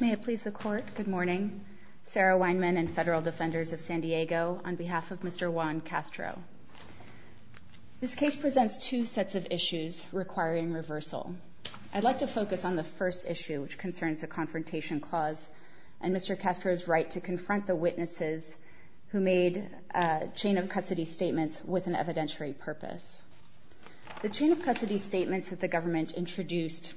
This case presents two sets of issues requiring reversal. I'd like to focus on the first issue, which concerns a confrontation clause and Mr. Castro's right to confront the witnesses who made chain of custody statements with an evidentiary purpose. The chain of custody statements that the government introduced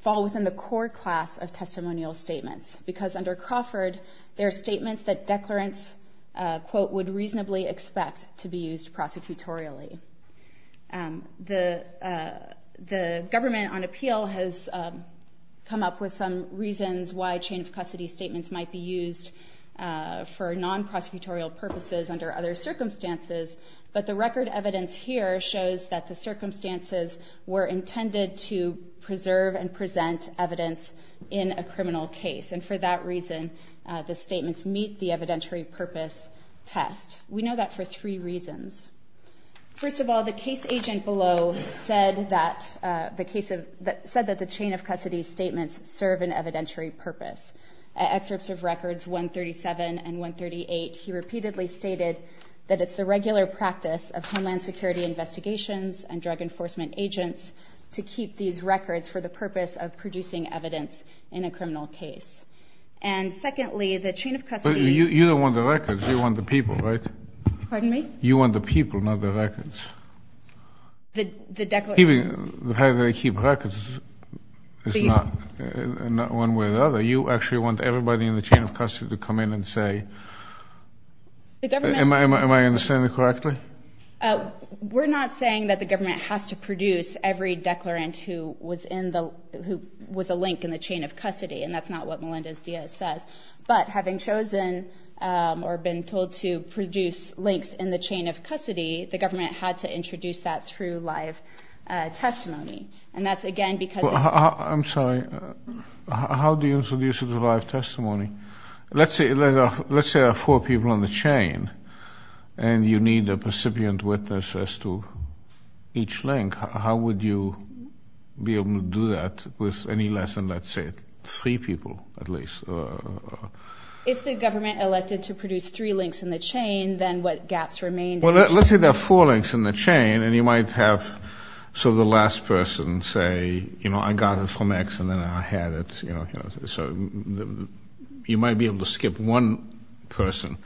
fall within the core class of testimonial statements, because under Crawford there are statements that declarants, quote, would reasonably expect to be used prosecutorially. The government on appeal has come up with some reasons why chain of custody statements might be used for non-prosecutorial purposes under other circumstances, but the record evidence here shows that the circumstances were intended to preserve and present evidence in a criminal case, and for that reason the statements meet the evidentiary purpose test. We know that for three reasons. First of all, the case agent below said that the chain of custody statements serve an evidentiary purpose. Excerpts of records 137 and 138, he repeatedly stated that it's the regular practice of Homeland Security investigations and drug enforcement agents to keep these records for the purpose of producing evidence in a criminal case. And secondly, the chain of custody— But you don't want the records. You want the people, right? Pardon me? You want the people, not the records. The declarant— The fact that they keep records is not one way or the other. You actually want everybody in the chain of custody to come in and say— The government— Am I understanding correctly? We're not saying that the government has to produce every declarant who was a link in the chain of custody, and that's not what Melinda's D.S. says, but having chosen or been told to produce links in the chain of custody, the government had to introduce that through live testimony, and that's again because— I'm sorry. How do you introduce it through live testimony? Let's say there are four people in the chain, and you need a recipient witness as to each link. How would you be able to do that with any less than, let's say, three people, at least? If the government elected to produce three links in the chain, then what gaps remain? Well, let's say there are four links in the chain, and you might have sort of the last person say, you know, I got it from X, and then I had it, you know, so you might be able to skip one person.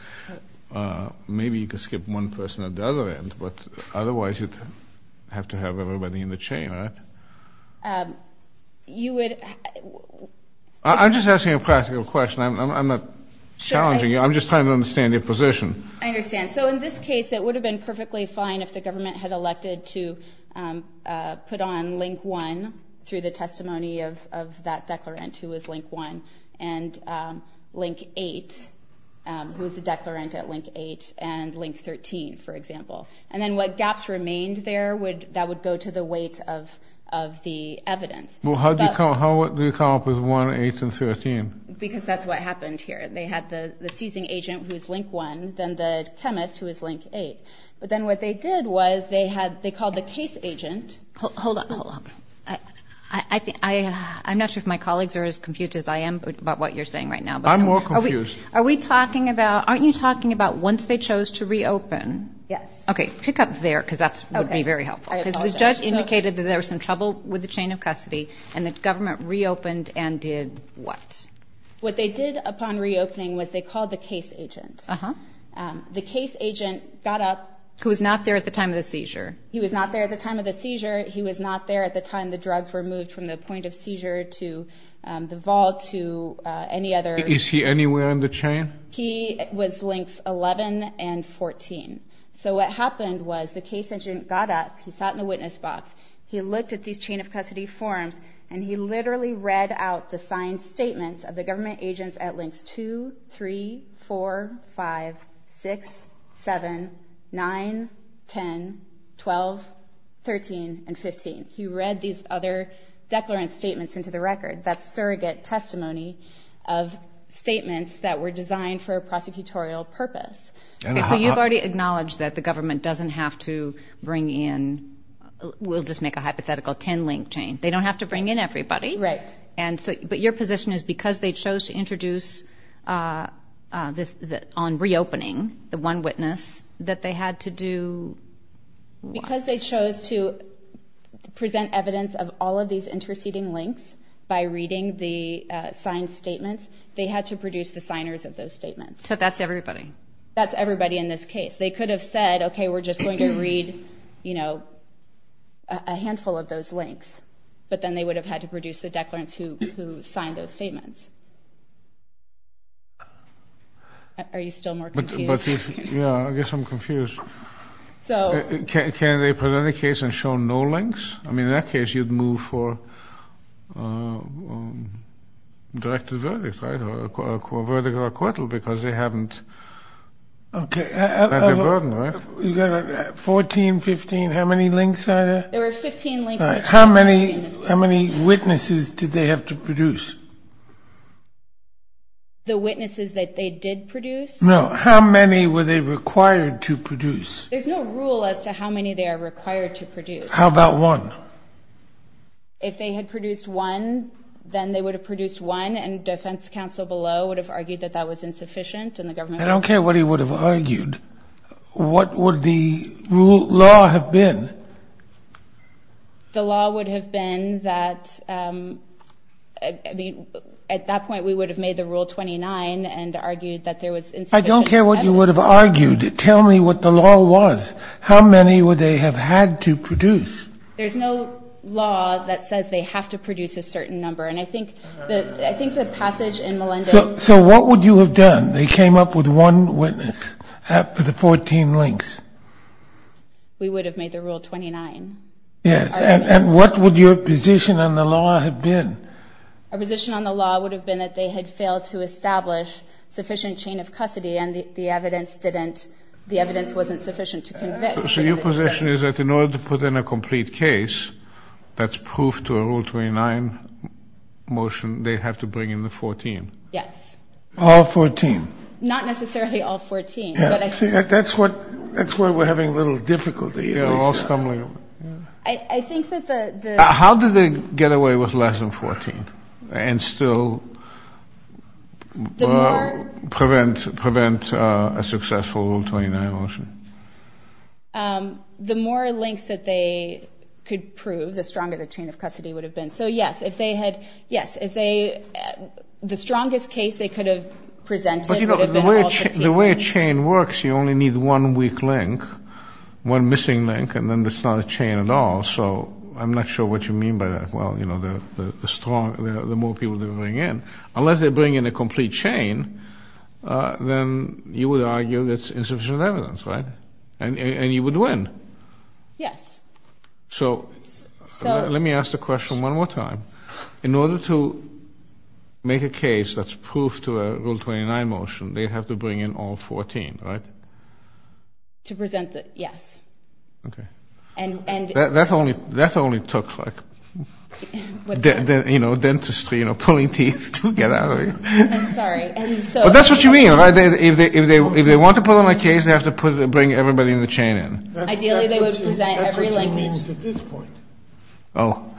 Maybe you could skip one person at the other end, but otherwise you'd have to have everybody in the chain, right? You would— I'm just asking a practical question. I'm not challenging you. I'm just trying to understand your position. I understand. So in this case, it would have been perfectly fine if the government had elected to put on link one through the testimony of that declarant, who was link one, and link eight, who was the declarant at link eight, and link 13, for example. And then what gaps remained there, that would go to the weight of the evidence. Well, how do you come up with one, eight, and 13? Because that's what happened here. They had the seizing agent, who was link one, then the chemist, who was link eight. But then what they did was they had—they called the case agent— Hold on, hold on. I'm not sure if my colleagues are as confused as I am about what you're saying right now. I'm more confused. Are we talking about—aren't you talking about once they chose to reopen? Yes. Okay, pick up there, because that would be very helpful. Because the judge indicated that there was some trouble with the chain of custody, and the government reopened and did what? What they did upon reopening was they called the case agent. The case agent got up— Who was not there at the time of the seizure. He was not there at the time of the seizure. He was not there at the time the drugs were moved from the point of seizure to the vault to any other— Is he anywhere in the chain? He was links 11 and 14. So what happened was the case agent got up, he sat in the witness box, he looked at these chain of custody forms, and he literally read out the signed statements of the government agents at links 2, 3, 4, 5, 6, 7, 9, 10, 12, 13, and 15. He read these other declarant statements into the record. That's surrogate testimony of statements that were designed for a prosecutorial purpose. Okay, so you've already acknowledged that the government doesn't have to bring in—we'll just make a hypothetical 10-link chain—they don't have to bring in everybody. Right. But your position is because they chose to introduce this on reopening, the one witness, that they had to do what? Because they chose to present evidence of all of these interceding links by reading the signed statements, they had to produce the signers of those statements. So that's everybody? That's everybody in this case. They could have said, okay, we're just going to read a handful of those links, but then they would have had to produce the declarants who signed those statements. Are you still more confused? Yeah, I guess I'm confused. Can they present a case and show no links? I mean, in that case, you'd move for a directed verdict, right, or a verdict of acquittal, because they haven't— Okay, 14, 15, how many links are there? There were 15 links. How many witnesses did they have to produce? The witnesses that they did produce? No, how many were they required to produce? There's no rule as to how many they are required to produce. How about one? If they had produced one, then they would have produced one, and defense counsel below would have argued that that was insufficient, and the government— I don't care what he would have argued. What would the law have been? The law would have been that, I mean, at that point, we would have made the Rule 29 and argued that there was insufficient evidence. I don't care what you would have argued. Tell me what the law was. How many would they have had to produce? There's no law that says they have to produce a certain number, and I think the passage in Melendez— So what would you have done? They came up with one witness for the 14 links. We would have made the Rule 29. Yes, and what would your position on the law have been? Our position on the law would have been that they had failed to establish sufficient chain of custody, and the evidence didn't—the evidence wasn't sufficient to convict. So your position is that in order to put in a complete case that's proof to a Rule 29 motion, they have to bring in the 14? Yes. All 14? Not necessarily all 14. That's where we're having a little difficulty. You're all stumbling over. I think that the— How did they get away with less than 14 and still prevent a successful Rule 29 motion? The more links that they could prove, the stronger the chain of custody would have been. So, yes, if they had—yes, if they—the strongest case they could have presented would have been all 14. The way a chain works, you only need one weak link, one missing link, and then it's not a chain at all. So I'm not sure what you mean by that. Well, you know, the strong—the more people they bring in. Unless they bring in a complete chain, then you would argue that's insufficient evidence, right? And you would win. Yes. So let me ask the question one more time. In order to make a case that's proof to a Rule 29 motion, they'd have to bring in all 14, right? To present the—yes. Okay. And— That only took, like, you know, dentistry, you know, pulling teeth to get out of it. I'm sorry. But that's what you mean, right? If they want to put on a case, they have to bring everybody in the chain in. Ideally, they would present every link. That's what she means at this point. Oh.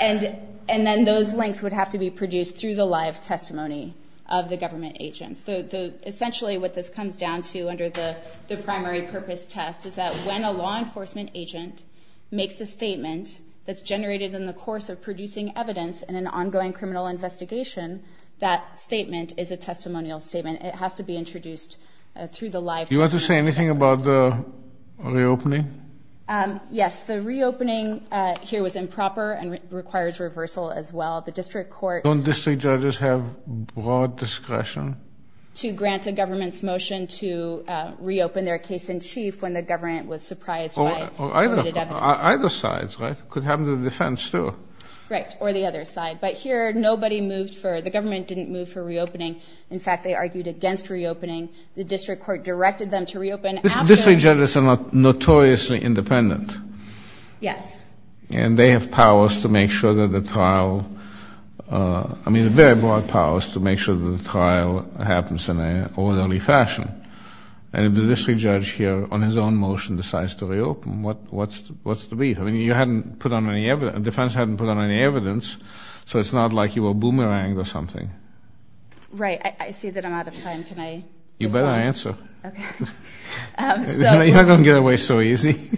And then those links would have to be produced through the live testimony of the government agents. Essentially, what this comes down to under the primary purpose test is that when a law enforcement agent makes a statement that's generated in the course of producing evidence in an ongoing criminal investigation, that statement is a testimonial statement. It has to be introduced through the live testimony. Do you want to say anything about the reopening? Yes. The reopening here was improper and requires reversal as well. The district court— Don't district judges have broad discretion? —to grant a government's motion to reopen their case in chief when the government was surprised by— Either sides, right? It could happen to the defense, too. Right. Or the other side. But here, nobody moved for—the government didn't move for reopening. In fact, they argued against reopening. The district court directed them to reopen after— District judges are notoriously independent. Yes. And they have powers to make sure that the trial—I mean, very broad powers to make sure that the trial happens in an orderly fashion. And if the district judge here on his own motion decides to reopen, what's the beef? I mean, you hadn't put on any—the defense hadn't put on any evidence, so it's not like you were boomeranged or something. Right. I see that I'm out of time. Can I— You better answer. Okay. So— You're not going to get away so easy.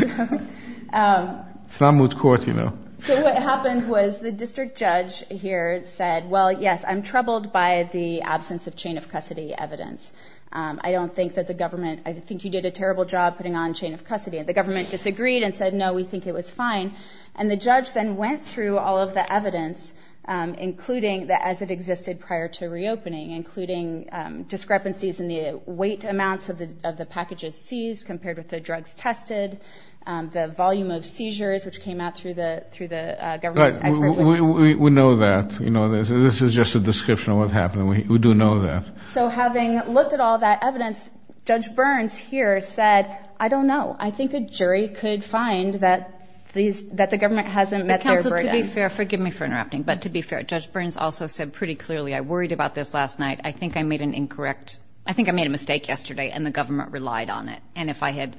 It's not moot court, you know. So what happened was the district judge here said, well, yes, I'm troubled by the absence of chain of custody evidence. I don't think that the government—I think you did a terrible job putting on chain of custody. And the government disagreed and said, no, we think it was fine. And the judge then went through all of the evidence, including as it existed prior to reopening, including discrepancies in the weight amounts of the packages seized compared with the drugs tested, the volume of seizures which came out through the government expert witness. Right. We know that. This is just a description of what happened. We do know that. So having looked at all that evidence, Judge Burns here said, I don't know. I think a jury could find that the government hasn't met their burden. Counsel, to be fair—forgive me for interrupting, but to be fair, Judge Burns also said pretty clearly, I worried about this last night. I think I made an incorrect—I think I made a mistake yesterday and the government relied on it. And if I had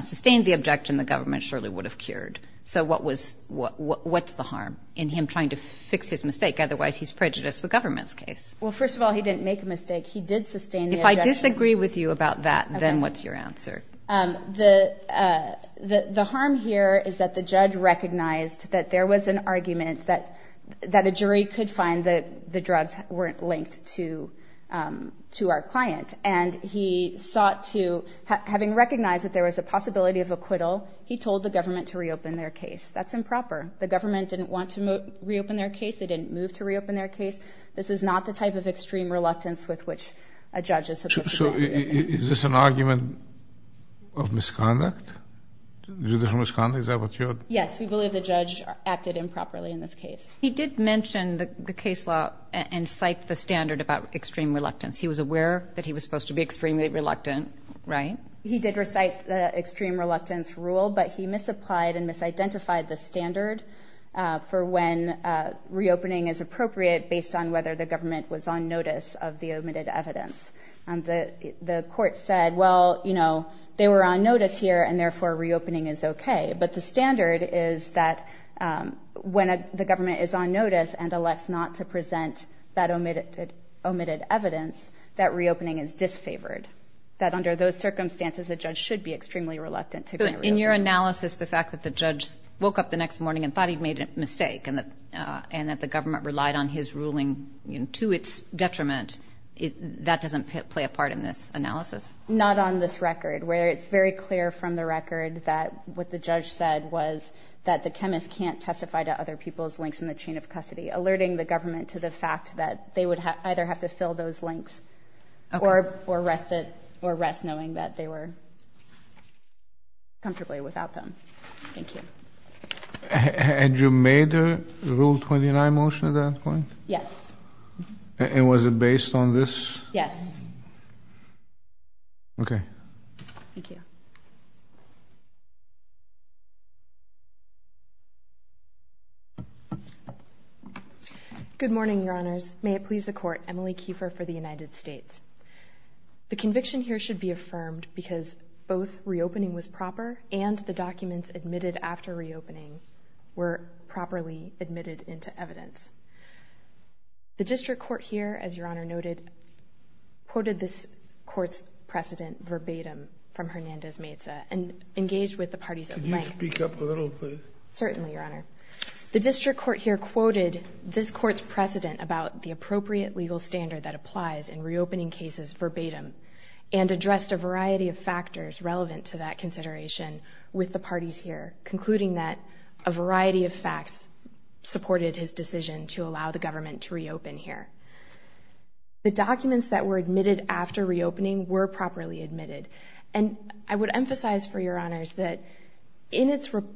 sustained the objection, the government surely would have cured. So what was—what's the harm in him trying to fix his mistake? Otherwise, he's prejudiced the government's case. Well, first of all, he didn't make a mistake. He did sustain the objection. If I disagree with you about that, then what's your answer? The harm here is that the judge recognized that there was an argument that a jury could find that the drugs weren't linked to our client. And he sought to—having recognized that there was a possibility of acquittal, he told the government to reopen their case. That's improper. The government didn't want to reopen their case. They didn't move to reopen their case. This is not the type of extreme reluctance with which a judge is supposed to— So is this an argument of misconduct, judicial misconduct? Is that what you're— Yes, we believe the judge acted improperly in this case. He did mention the case law and cite the standard about extreme reluctance. He was aware that he was supposed to be extremely reluctant, right? He did recite the extreme reluctance rule, but he misapplied and misidentified the standard for when reopening is appropriate based on whether the government was on notice of the omitted evidence. The court said, well, you know, they were on notice here, and therefore reopening is okay. But the standard is that when the government is on notice and elects not to present that omitted evidence, that reopening is disfavored. That under those circumstances, a judge should be extremely reluctant to reopen. In your analysis, the fact that the judge woke up the next morning and thought he'd made a mistake and that the government relied on his ruling to its detriment, that doesn't play a part in this analysis? Not on this record, where it's very clear from the record that what the judge said was that the chemist can't testify to other people's links in the chain of custody, alerting the government to the fact that they would either have to fill those links or rest knowing that they were comfortably without them. Thank you. Had you made a Rule 29 motion at that point? Yes. And was it based on this? Yes. Okay. Thank you. Good morning, Your Honors. May it please the Court, Emily Kiefer for the United States. The conviction here should be affirmed because both reopening was proper and the documents admitted after reopening were properly admitted into evidence. The district court here, as Your Honor noted, quoted this court's precedent verbatim from Hernandez-Meza and engaged with the parties at length. Could you speak up a little, please? Certainly, Your Honor. The district court here quoted this court's precedent about the appropriate legal standard that applies in reopening cases verbatim and addressed a variety of factors relevant to that consideration with the parties here, concluding that a variety of facts supported his decision to allow the government to reopen here. The documents that were admitted after reopening were properly admitted. And I would emphasize for Your Honors that in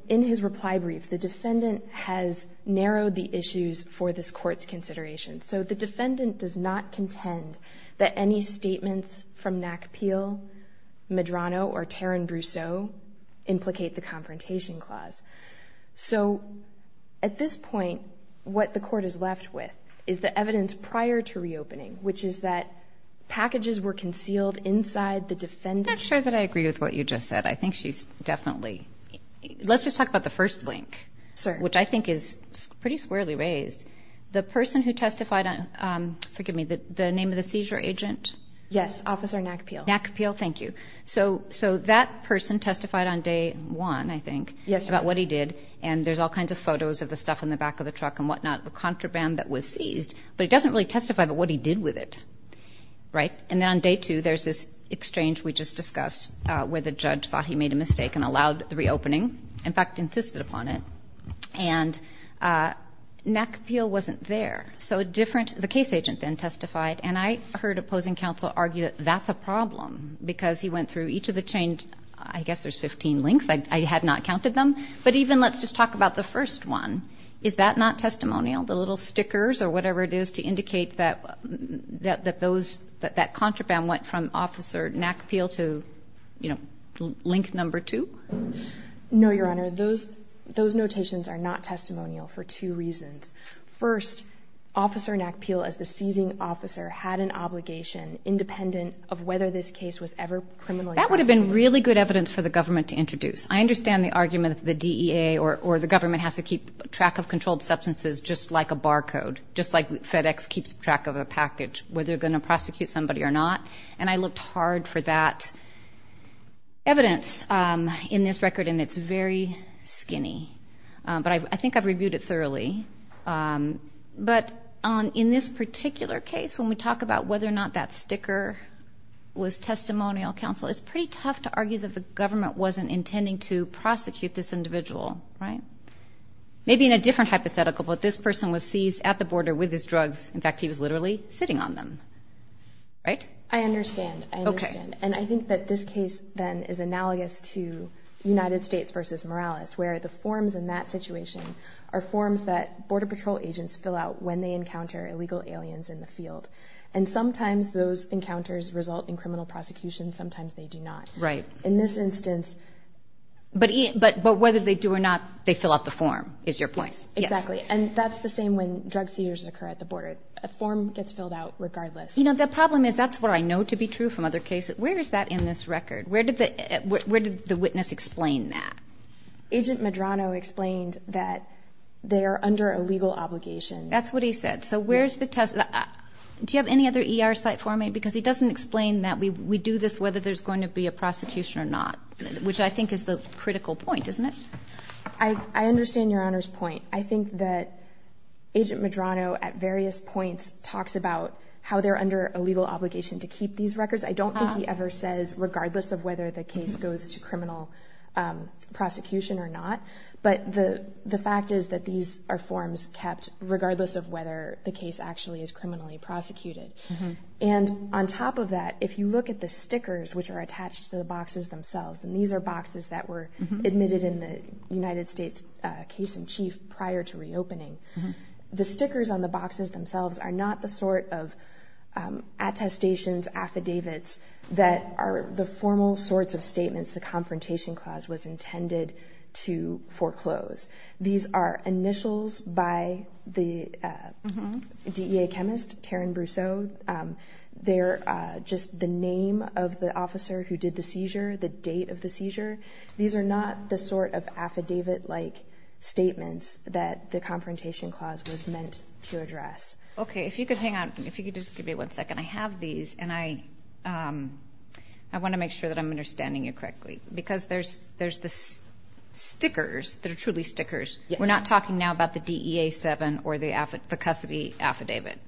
his reply brief, the defendant has narrowed the issues for this court's consideration. So the defendant does not contend that any statements from McPeel, Medrano, or Tarrin Brousseau implicate the Confrontation Clause. So at this point, what the court is left with is the evidence prior to reopening, which is that packages were concealed inside the defendant. I'm not sure that I agree with what you just said. I think she's definitely. Let's just talk about the first link, which I think is pretty squarely raised. The person who testified on, forgive me, the name of the seizure agent? Yes, Officer McPeel. McPeel, thank you. So that person testified on day one, I think, about what he did, and there's all kinds of photos of the stuff in the back of the truck and whatnot, the contraband that was seized. But he doesn't really testify about what he did with it, right? And then on day two, there's this exchange we just discussed where the judge thought he made a mistake and allowed the reopening, in fact, insisted upon it. And McPeel wasn't there. So a different – the case agent then testified, and I heard opposing counsel argue that that's a problem because he went through each of the – I guess there's 15 links. I had not counted them. But even – let's just talk about the first one. Is that not testimonial, the little stickers or whatever it is to indicate that those – that that contraband went from Officer McPeel to, you know, link number two? No, Your Honor. Those notations are not testimonial for two reasons. First, Officer McPeel, as the seizing officer, had an obligation independent of whether this case was ever criminally prosecuted. That would have been really good evidence for the government to introduce. I understand the argument that the DEA or the government has to keep track of controlled substances just like a bar code, just like FedEx keeps track of a package, whether they're going to prosecute somebody or not. And I looked hard for that evidence in this record, and it's very skinny. But I think I've reviewed it thoroughly. But in this particular case, when we talk about whether or not that sticker was testimonial, counsel, it's pretty tough to argue that the government wasn't intending to prosecute this individual, right? Maybe in a different hypothetical, but this person was seized at the border with his drugs. In fact, he was literally sitting on them, right? I understand. I understand. And I think that this case, then, is analogous to United States v. Morales, where the forms in that situation are forms that Border Patrol agents fill out when they encounter illegal aliens in the field. And sometimes those encounters result in criminal prosecution. Sometimes they do not. Right. In this instance. But whether they do or not, they fill out the form, is your point? Yes. Exactly. And that's the same when drug seizures occur at the border. A form gets filled out regardless. You know, the problem is that's what I know to be true from other cases. Where is that in this record? Where did the witness explain that? Agent Medrano explained that they are under a legal obligation. That's what he said. So where's the test? Do you have any other ER site for me? Because he doesn't explain that we do this whether there's going to be a prosecution or not, which I think is the critical point, isn't it? I understand Your Honor's point. I think that Agent Medrano at various points talks about how they're under a legal obligation to keep these records. I don't think he ever says regardless of whether the case goes to criminal prosecution or not. But the fact is that these are forms kept regardless of whether the case actually is criminally prosecuted. And on top of that, if you look at the stickers which are attached to the boxes themselves, and these are boxes that were admitted in the United States case in chief prior to reopening, the stickers on the boxes themselves are not the sort of attestations, affidavits, that are the formal sorts of statements the Confrontation Clause was intended to foreclose. These are initials by the DEA chemist, Taryn Brousseau. They're just the name of the officer who did the seizure, the date of the seizure. These are not the sort of affidavit-like statements that the Confrontation Clause was meant to address. Okay, if you could hang on. If you could just give me one second. I have these, and I want to make sure that I'm understanding you correctly. Because there's the stickers that are truly stickers. We're not talking now about the DEA 7 or the custody affidavit.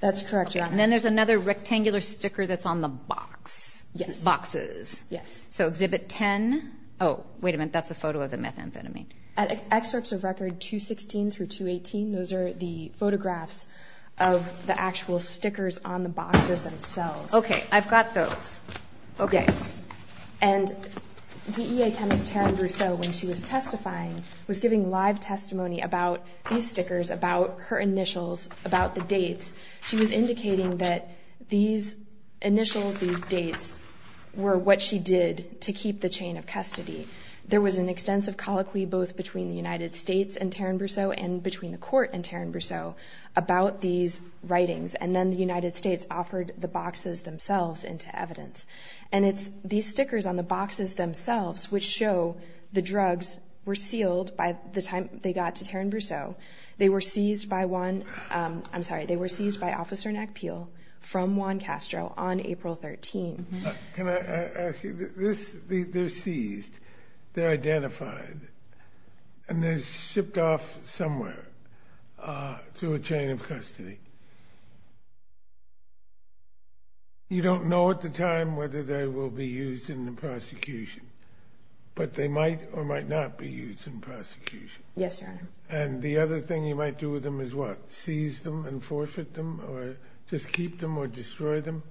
That's correct, Your Honor. Then there's another rectangular sticker that's on the boxes. Yes. So Exhibit 10. Oh, wait a minute. That's a photo of the methamphetamine. Excerpts of Record 216 through 218, those are the photographs of the actual stickers on the boxes themselves. Okay, I've got those. Yes. And DEA chemist Taryn Brousseau, when she was testifying, was giving live testimony about these stickers, about her initials, about the dates. She was indicating that these initials, these dates, were what she did to keep the chain of custody. There was an extensive colloquy both between the United States and Taryn Brousseau and between the court and Taryn Brousseau about these writings, and then the United States offered the boxes themselves into evidence. And it's these stickers on the boxes themselves which show the drugs were sealed by the time they got to Taryn Brousseau. They were seized by one. I'm sorry. They were seized by Officer Nack Peel from Juan Castro on April 13. Can I ask you this? They're seized. They're identified. And they're shipped off somewhere to a chain of custody. You don't know at the time whether they will be used in the prosecution, but they might or might not be used in prosecution. Yes, Your Honor. And the other thing you might do with them is what? Seize them and forfeit them or just keep them or destroy them?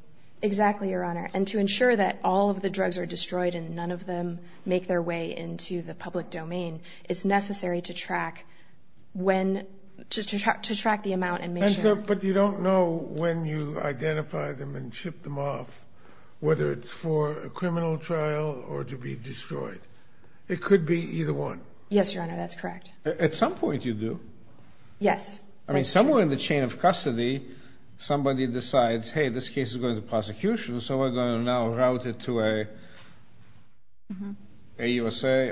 Exactly, Your Honor. And to ensure that all of the drugs are destroyed and none of them make their way into the public domain, it's necessary to track when, to track the amount and make sure. But you don't know when you identify them and ship them off, whether it's for a criminal trial or to be destroyed. It could be either one. Yes, Your Honor, that's correct. At some point you do. Yes. I mean somewhere in the chain of custody somebody decides, hey, this case is going to prosecution, so we're going to now route it to a USA,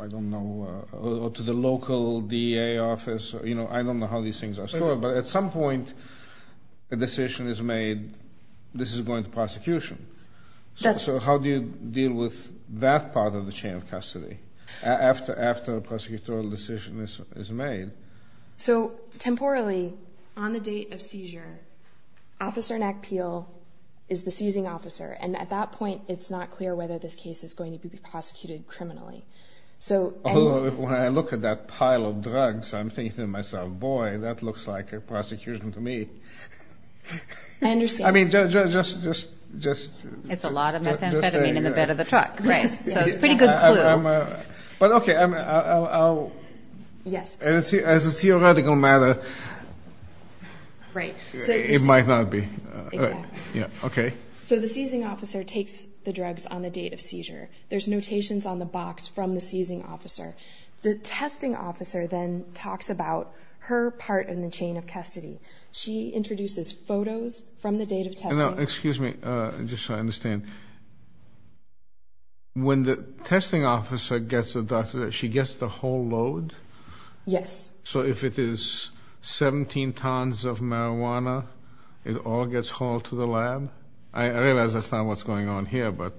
I don't know, or to the local DA office. I don't know how these things are stored, but at some point a decision is made, this is going to prosecution. So how do you deal with that part of the chain of custody after a prosecutorial decision is made? So temporally, on the date of seizure, Officer Nack Peel is the seizing officer, and at that point it's not clear whether this case is going to be prosecuted criminally. When I look at that pile of drugs, I'm thinking to myself, boy, that looks like a prosecution to me. I understand. I mean, just... It's a lot of methamphetamine in the bed of the truck, right? So it's a pretty good clue. But okay, I'll... Yes. As a theoretical matter, it might not be. Okay. So the seizing officer takes the drugs on the date of seizure. There's notations on the box from the seizing officer. The testing officer then talks about her part in the chain of custody. She introduces photos from the date of testing. Now, excuse me, just so I understand. When the testing officer gets a doctor, she gets the whole load? Yes. So if it is 17 tons of marijuana, it all gets hauled to the lab? I realize that's not what's going on here, but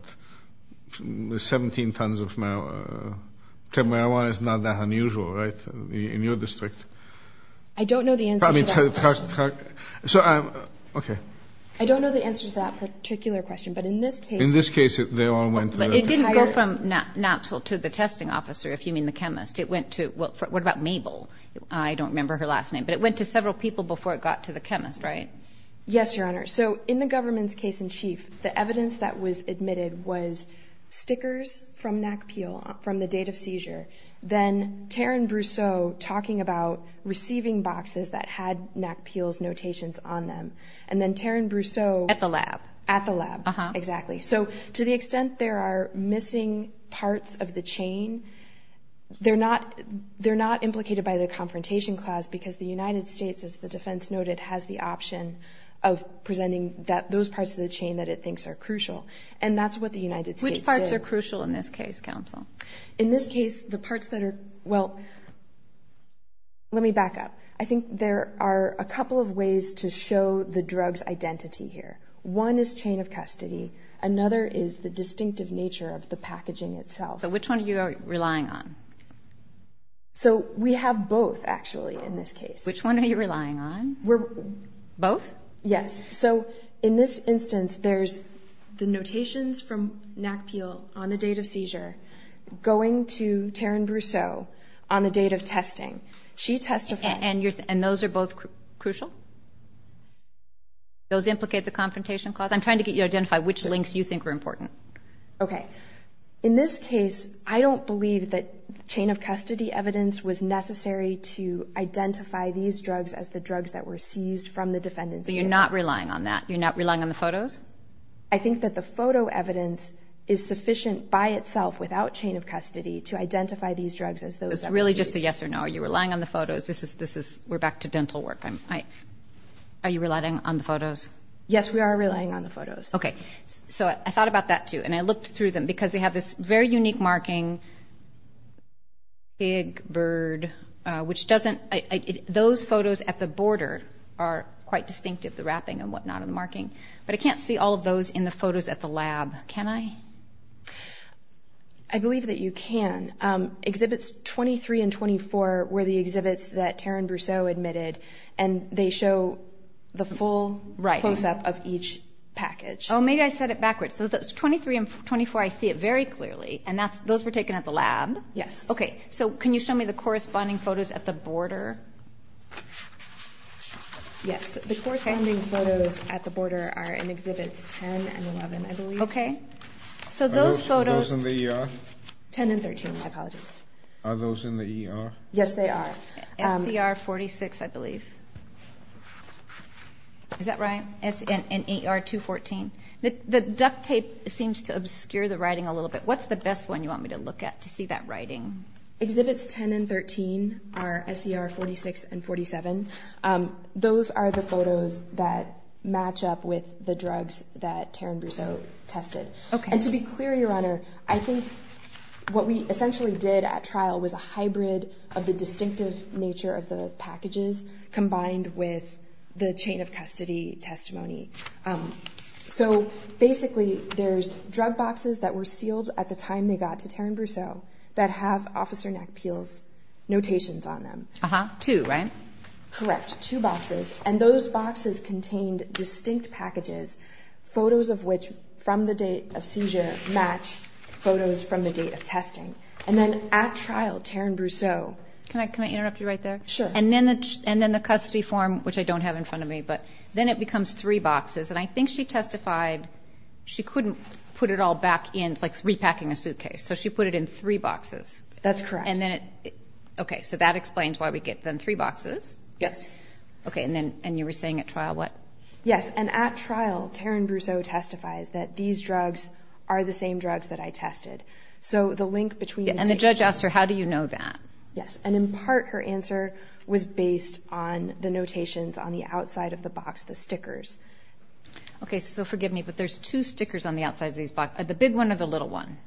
17 tons of marijuana is not that unusual, right, in your district? I don't know the answer to that question. So I'm... Okay. I don't know the answer to that particular question. But in this case... In this case, they all went to the... But it didn't go from Napsol to the testing officer, if you mean the chemist. It went to... What about Mabel? I don't remember her last name. But it went to several people before it got to the chemist, right? Yes, Your Honor. So in the government's case in chief, the evidence that was admitted was stickers from NACPEL from the date of seizure, then Taryn Brousseau talking about receiving boxes that had NACPEL's notations on them, and then Taryn Brousseau... At the lab. At the lab, exactly. So to the extent there are missing parts of the chain, they're not implicated by the Confrontation Clause because the United States, as the defense noted, has the option of presenting those parts of the chain that it thinks are crucial. And that's what the United States did. Which parts are crucial in this case, counsel? In this case, the parts that are... Well, let me back up. I think there are a couple of ways to show the drug's identity here. One is chain of custody. Another is the distinctive nature of the packaging itself. So which one are you relying on? So we have both, actually, in this case. Which one are you relying on? Both? Yes. So in this instance, there's the notations from NACPEL on the date of seizure going to Taryn Brousseau on the date of testing. She testified... And those are both crucial? Those implicate the Confrontation Clause? I'm trying to get you to identify which links you think are important. Okay. In this case, I don't believe that chain of custody evidence was necessary to identify these drugs as the drugs that were seized from the defendant. So you're not relying on that? You're not relying on the photos? I think that the photo evidence is sufficient by itself, without chain of custody, to identify these drugs as those that were seized. So it's really just a yes or no? Are you relying on the photos? We're back to dental work. Are you relying on the photos? Yes, we are relying on the photos. Okay. So I thought about that, too, and I looked through them because they have this very unique marking, Big Bird, which doesn't... Those photos at the border are quite distinctive, the wrapping and whatnot and the marking. But I can't see all of those in the photos at the lab, can I? I believe that you can. Exhibits 23 and 24 were the exhibits that Taryn Brousseau admitted, and they show the full close-up of each package. Oh, maybe I said it backwards. So 23 and 24, I see it very clearly, and those were taken at the lab? Yes. Okay. So can you show me the corresponding photos at the border? Yes. The corresponding photos at the border are in Exhibits 10 and 11, I believe. Okay. So those photos... Are those in the ER? 10 and 13, my apologies. Are those in the ER? Yes, they are. SCR 46, I believe. Is that right? And ER 214? The duct tape seems to obscure the writing a little bit. What's the best one you want me to look at to see that writing? Exhibits 10 and 13 are SCR 46 and 47. Those are the photos that match up with the drugs that Taryn Brousseau tested. Okay. And to be clear, Your Honor, I think what we essentially did at trial was a hybrid of the distinctive nature of the packages combined with the chain of custody testimony. So basically, there's drug boxes that were sealed at the time they got to Taryn Brousseau that have Officer Nak-Peel's notations on them. Two, right? Correct, two boxes. And those boxes contained distinct packages, photos of which, from the date of seizure, match photos from the date of testing. And then at trial, Taryn Brousseau... Can I interrupt you right there? Sure. And then the custody form, which I don't have in front of me, but then it becomes three boxes. And I think she testified she couldn't put it all back in. It's like repacking a suitcase. So she put it in three boxes. That's correct. Okay, so that explains why we get them three boxes. Yes. Okay, and you were saying at trial what? Yes, and at trial, Taryn Brousseau testifies that these drugs are the same drugs that I tested. So the link between... And the judge asked her, how do you know that? Yes. And in part, her answer was based on the notations on the outside of the box, the stickers. Okay, so forgive me, but there's two stickers on the outside of these boxes, the big one or the little one?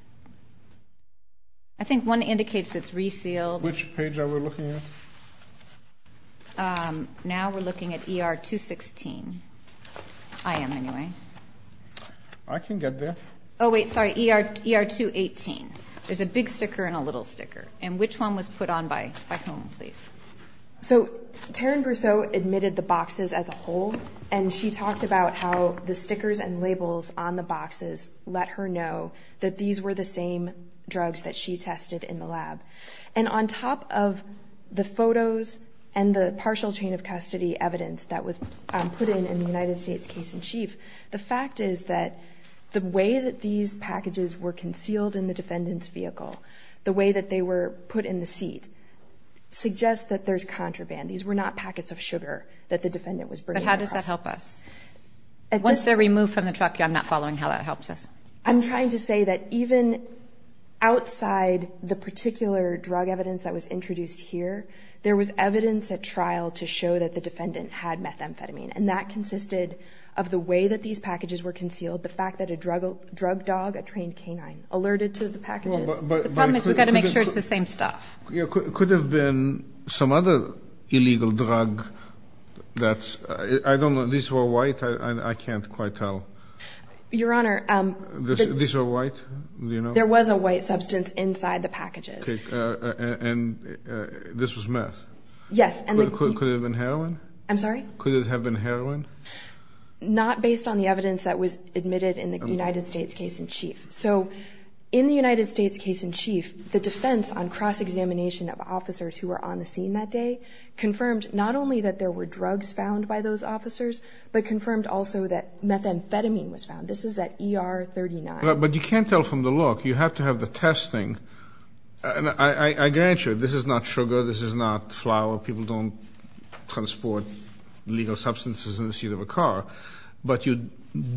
I think one indicates it's resealed. Which page are we looking at? Now we're looking at ER 216. I am, anyway. I can get there. Oh, wait, sorry, ER 218. There's a big sticker and a little sticker. And which one was put on by whom, please? So Taryn Brousseau admitted the boxes as a whole, and she talked about how the stickers and labels on the boxes let her know that these were the same drugs that she tested in the lab. And on top of the photos and the partial chain of custody evidence that was put in in the United States case in chief, the fact is that the way that these packages were concealed in the defendant's vehicle, the way that they were put in the seat, suggests that there's contraband. These were not packets of sugar that the defendant was bringing across. But how does that help us? Once they're removed from the truck, I'm not following how that helps us. I'm trying to say that even outside the particular drug evidence that was introduced here, there was evidence at trial to show that the defendant had methamphetamine, and that consisted of the way that these packages were concealed, the fact that a drug dog, a trained canine, alerted to the packages. The problem is we've got to make sure it's the same stuff. Could there have been some other illegal drug that's ‑‑ I don't know. These were white. I can't quite tell. Your Honor. These were white? There was a white substance inside the packages. And this was meth? Yes. Could it have been heroin? I'm sorry? Could it have been heroin? Not based on the evidence that was admitted in the United States case in chief. So in the United States case in chief, the defense on cross‑examination of officers who were on the scene that day confirmed not only that there were drugs found by those officers, but confirmed also that methamphetamine was found. This is at ER 39. But you can't tell from the look. You have to have the testing. And I grant you, this is not sugar, this is not flour. People don't transport illegal substances in the seat of a car. But you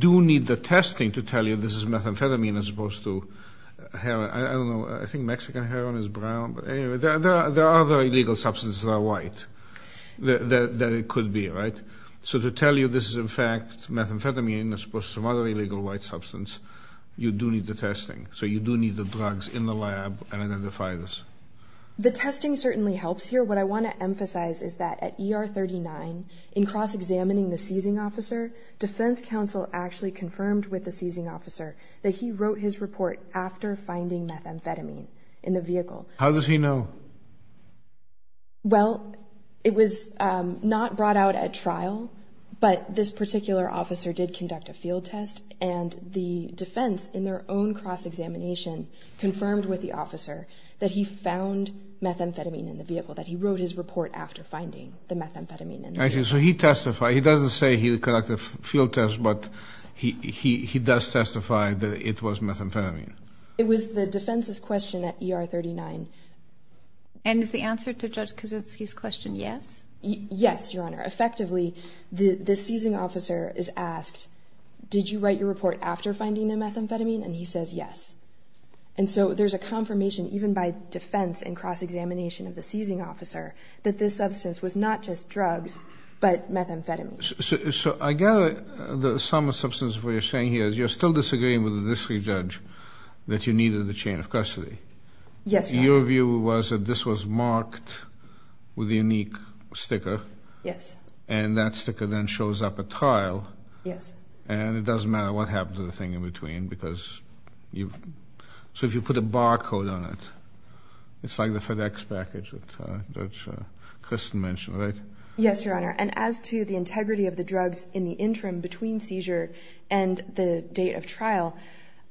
do need the testing to tell you this is methamphetamine as opposed to heroin. I don't know. I think Mexican heroin is brown. There are other illegal substances that are white that it could be, right? So to tell you this is, in fact, methamphetamine as opposed to some other illegal white substance, you do need the testing. So you do need the drugs in the lab to identify this. The testing certainly helps here. What I want to emphasize is that at ER 39, in cross‑examining the seizing officer, defense counsel actually confirmed with the seizing officer that he wrote his report after finding methamphetamine in the vehicle. How does he know? Well, it was not brought out at trial, but this particular officer did conduct a field test, and the defense in their own cross‑examination confirmed with the officer that he found methamphetamine in the vehicle, that he wrote his report after finding the methamphetamine in the vehicle. So he testified. He doesn't say he conducted a field test, but he does testify that it was methamphetamine. It was the defense's question at ER 39. And is the answer to Judge Kaczynski's question yes? Yes, Your Honor. Effectively, the seizing officer is asked, did you write your report after finding the methamphetamine? And he says yes. And so there's a confirmation, even by defense in cross‑examination of the seizing officer, that this substance was not just drugs but methamphetamine. So I gather the sum of substance of what you're saying here is you're still disagreeing with the district judge that you needed the chain of custody. Yes, Your Honor. Your view was that this was marked with a unique sticker. Yes. And that sticker then shows up at trial. Yes. And it doesn't matter what happened to the thing in between because you've ‑‑ so if you put a barcode on it, it's like the FedEx package that Judge Kristin mentioned, right? Yes, Your Honor. And as to the integrity of the drugs in the interim between seizure and the date of trial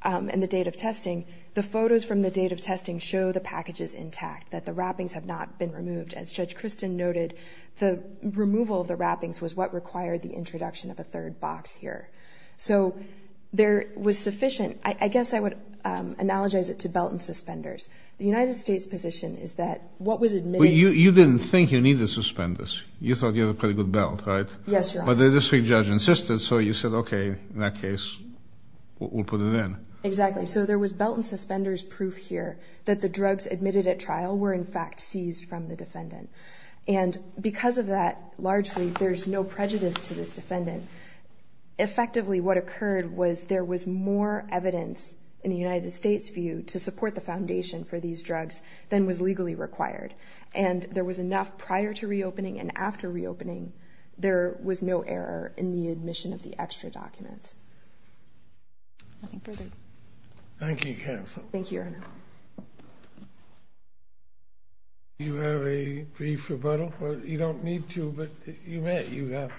and the date of testing, the photos from the date of testing show the packages intact, that the wrappings have not been removed. As Judge Kristin noted, the removal of the wrappings was what required the introduction of a third box here. So there was sufficient ‑‑ I guess I would analogize it to belt and suspenders. The United States position is that what was admitted ‑‑ But you didn't think you needed suspenders. You thought you had a pretty good belt, right? Yes, Your Honor. But the district judge insisted, so you said, okay, in that case, we'll put it in. Exactly. So there was belt and suspenders proof here that the drugs admitted at trial were, in fact, seized from the defendant. And because of that, largely, there's no prejudice to this defendant. Effectively, what occurred was there was more evidence in the United States' view to support the foundation for these drugs than was legally required. And there was enough prior to reopening and after reopening, there was no error in the admission of the extra documents. Thank you, counsel. Thank you, Your Honor. Do you have a brief rebuttal? You don't need to, but you have.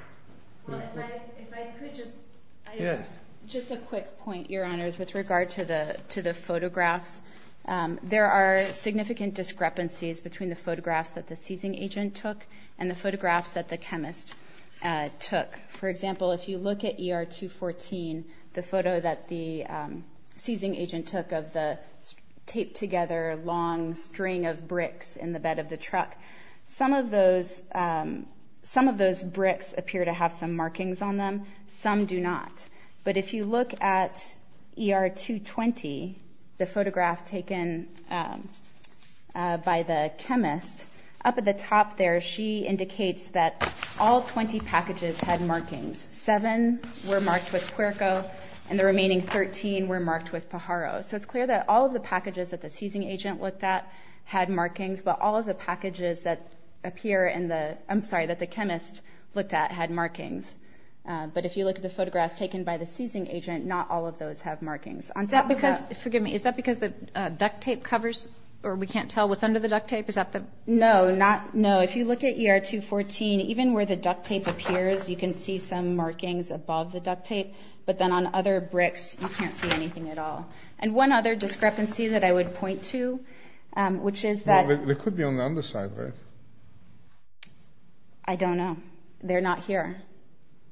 Well, if I could just ‑‑ Yes. Just a quick point, Your Honors, with regard to the photographs. There are significant discrepancies between the photographs that the seizing agent took and the photographs that the chemist took. For example, if you look at ER 214, the photo that the seizing agent took of the taped together long string of bricks in the bed of the truck, some of those bricks appear to have some markings on them. Some do not. But if you look at ER 220, the photograph taken by the chemist, up at the top there, she indicates that all 20 packages had markings. Seven were marked with Puerco, and the remaining 13 were marked with Pajaro. So it's clear that all of the packages that the seizing agent looked at had markings, but all of the packages that appear in the ‑‑ I'm sorry, that the chemist looked at had markings. But if you look at the photographs taken by the seizing agent, not all of those have markings. Is that because the duct tape covers, or we can't tell what's under the duct tape? Is that the ‑‑ No. If you look at ER 214, even where the duct tape appears, you can see some markings above the duct tape, but then on other bricks you can't see anything at all. And one other discrepancy that I would point to, which is that ‑‑ They could be on the underside, right? I don't know. They're not here.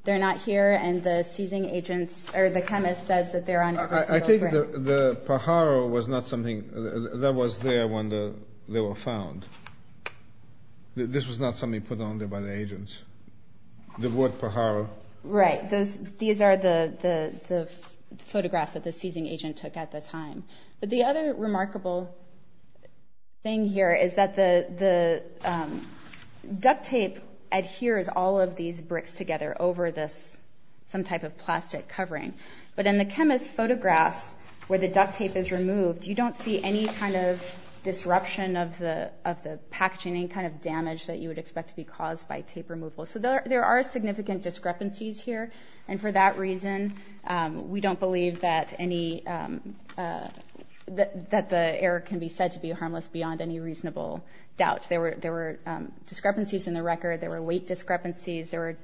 They're not here, and the seizing agent, or the chemist, says that they're on every single brick. I think the Pajaro was not something that was there when they were found. This was not something put on there by the agents. The word Pajaro. Right. These are the photographs that the seizing agent took at the time. But the other remarkable thing here is that the duct tape adheres all of these bricks together over this, some type of plastic covering. But in the chemist's photographs where the duct tape is removed, you don't see any kind of disruption of the packaging, any kind of damage that you would expect to be caused by tape removal. So there are significant discrepancies here, and for that reason, we don't believe that any ‑‑ that the error can be said to be harmless beyond any reasonable doubt. There were discrepancies in the record. There were weight discrepancies. There were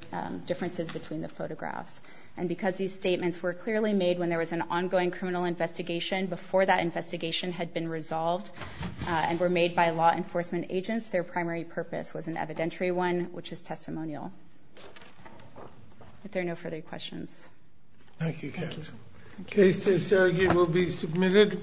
differences between the photographs. And because these statements were clearly made when there was an ongoing criminal investigation, before that investigation had been resolved and were made by law enforcement agents, their primary purpose was an evidentiary one, which is testimonial. If there are no further questions. Thank you, Captain. The case to surrogate will be submitted.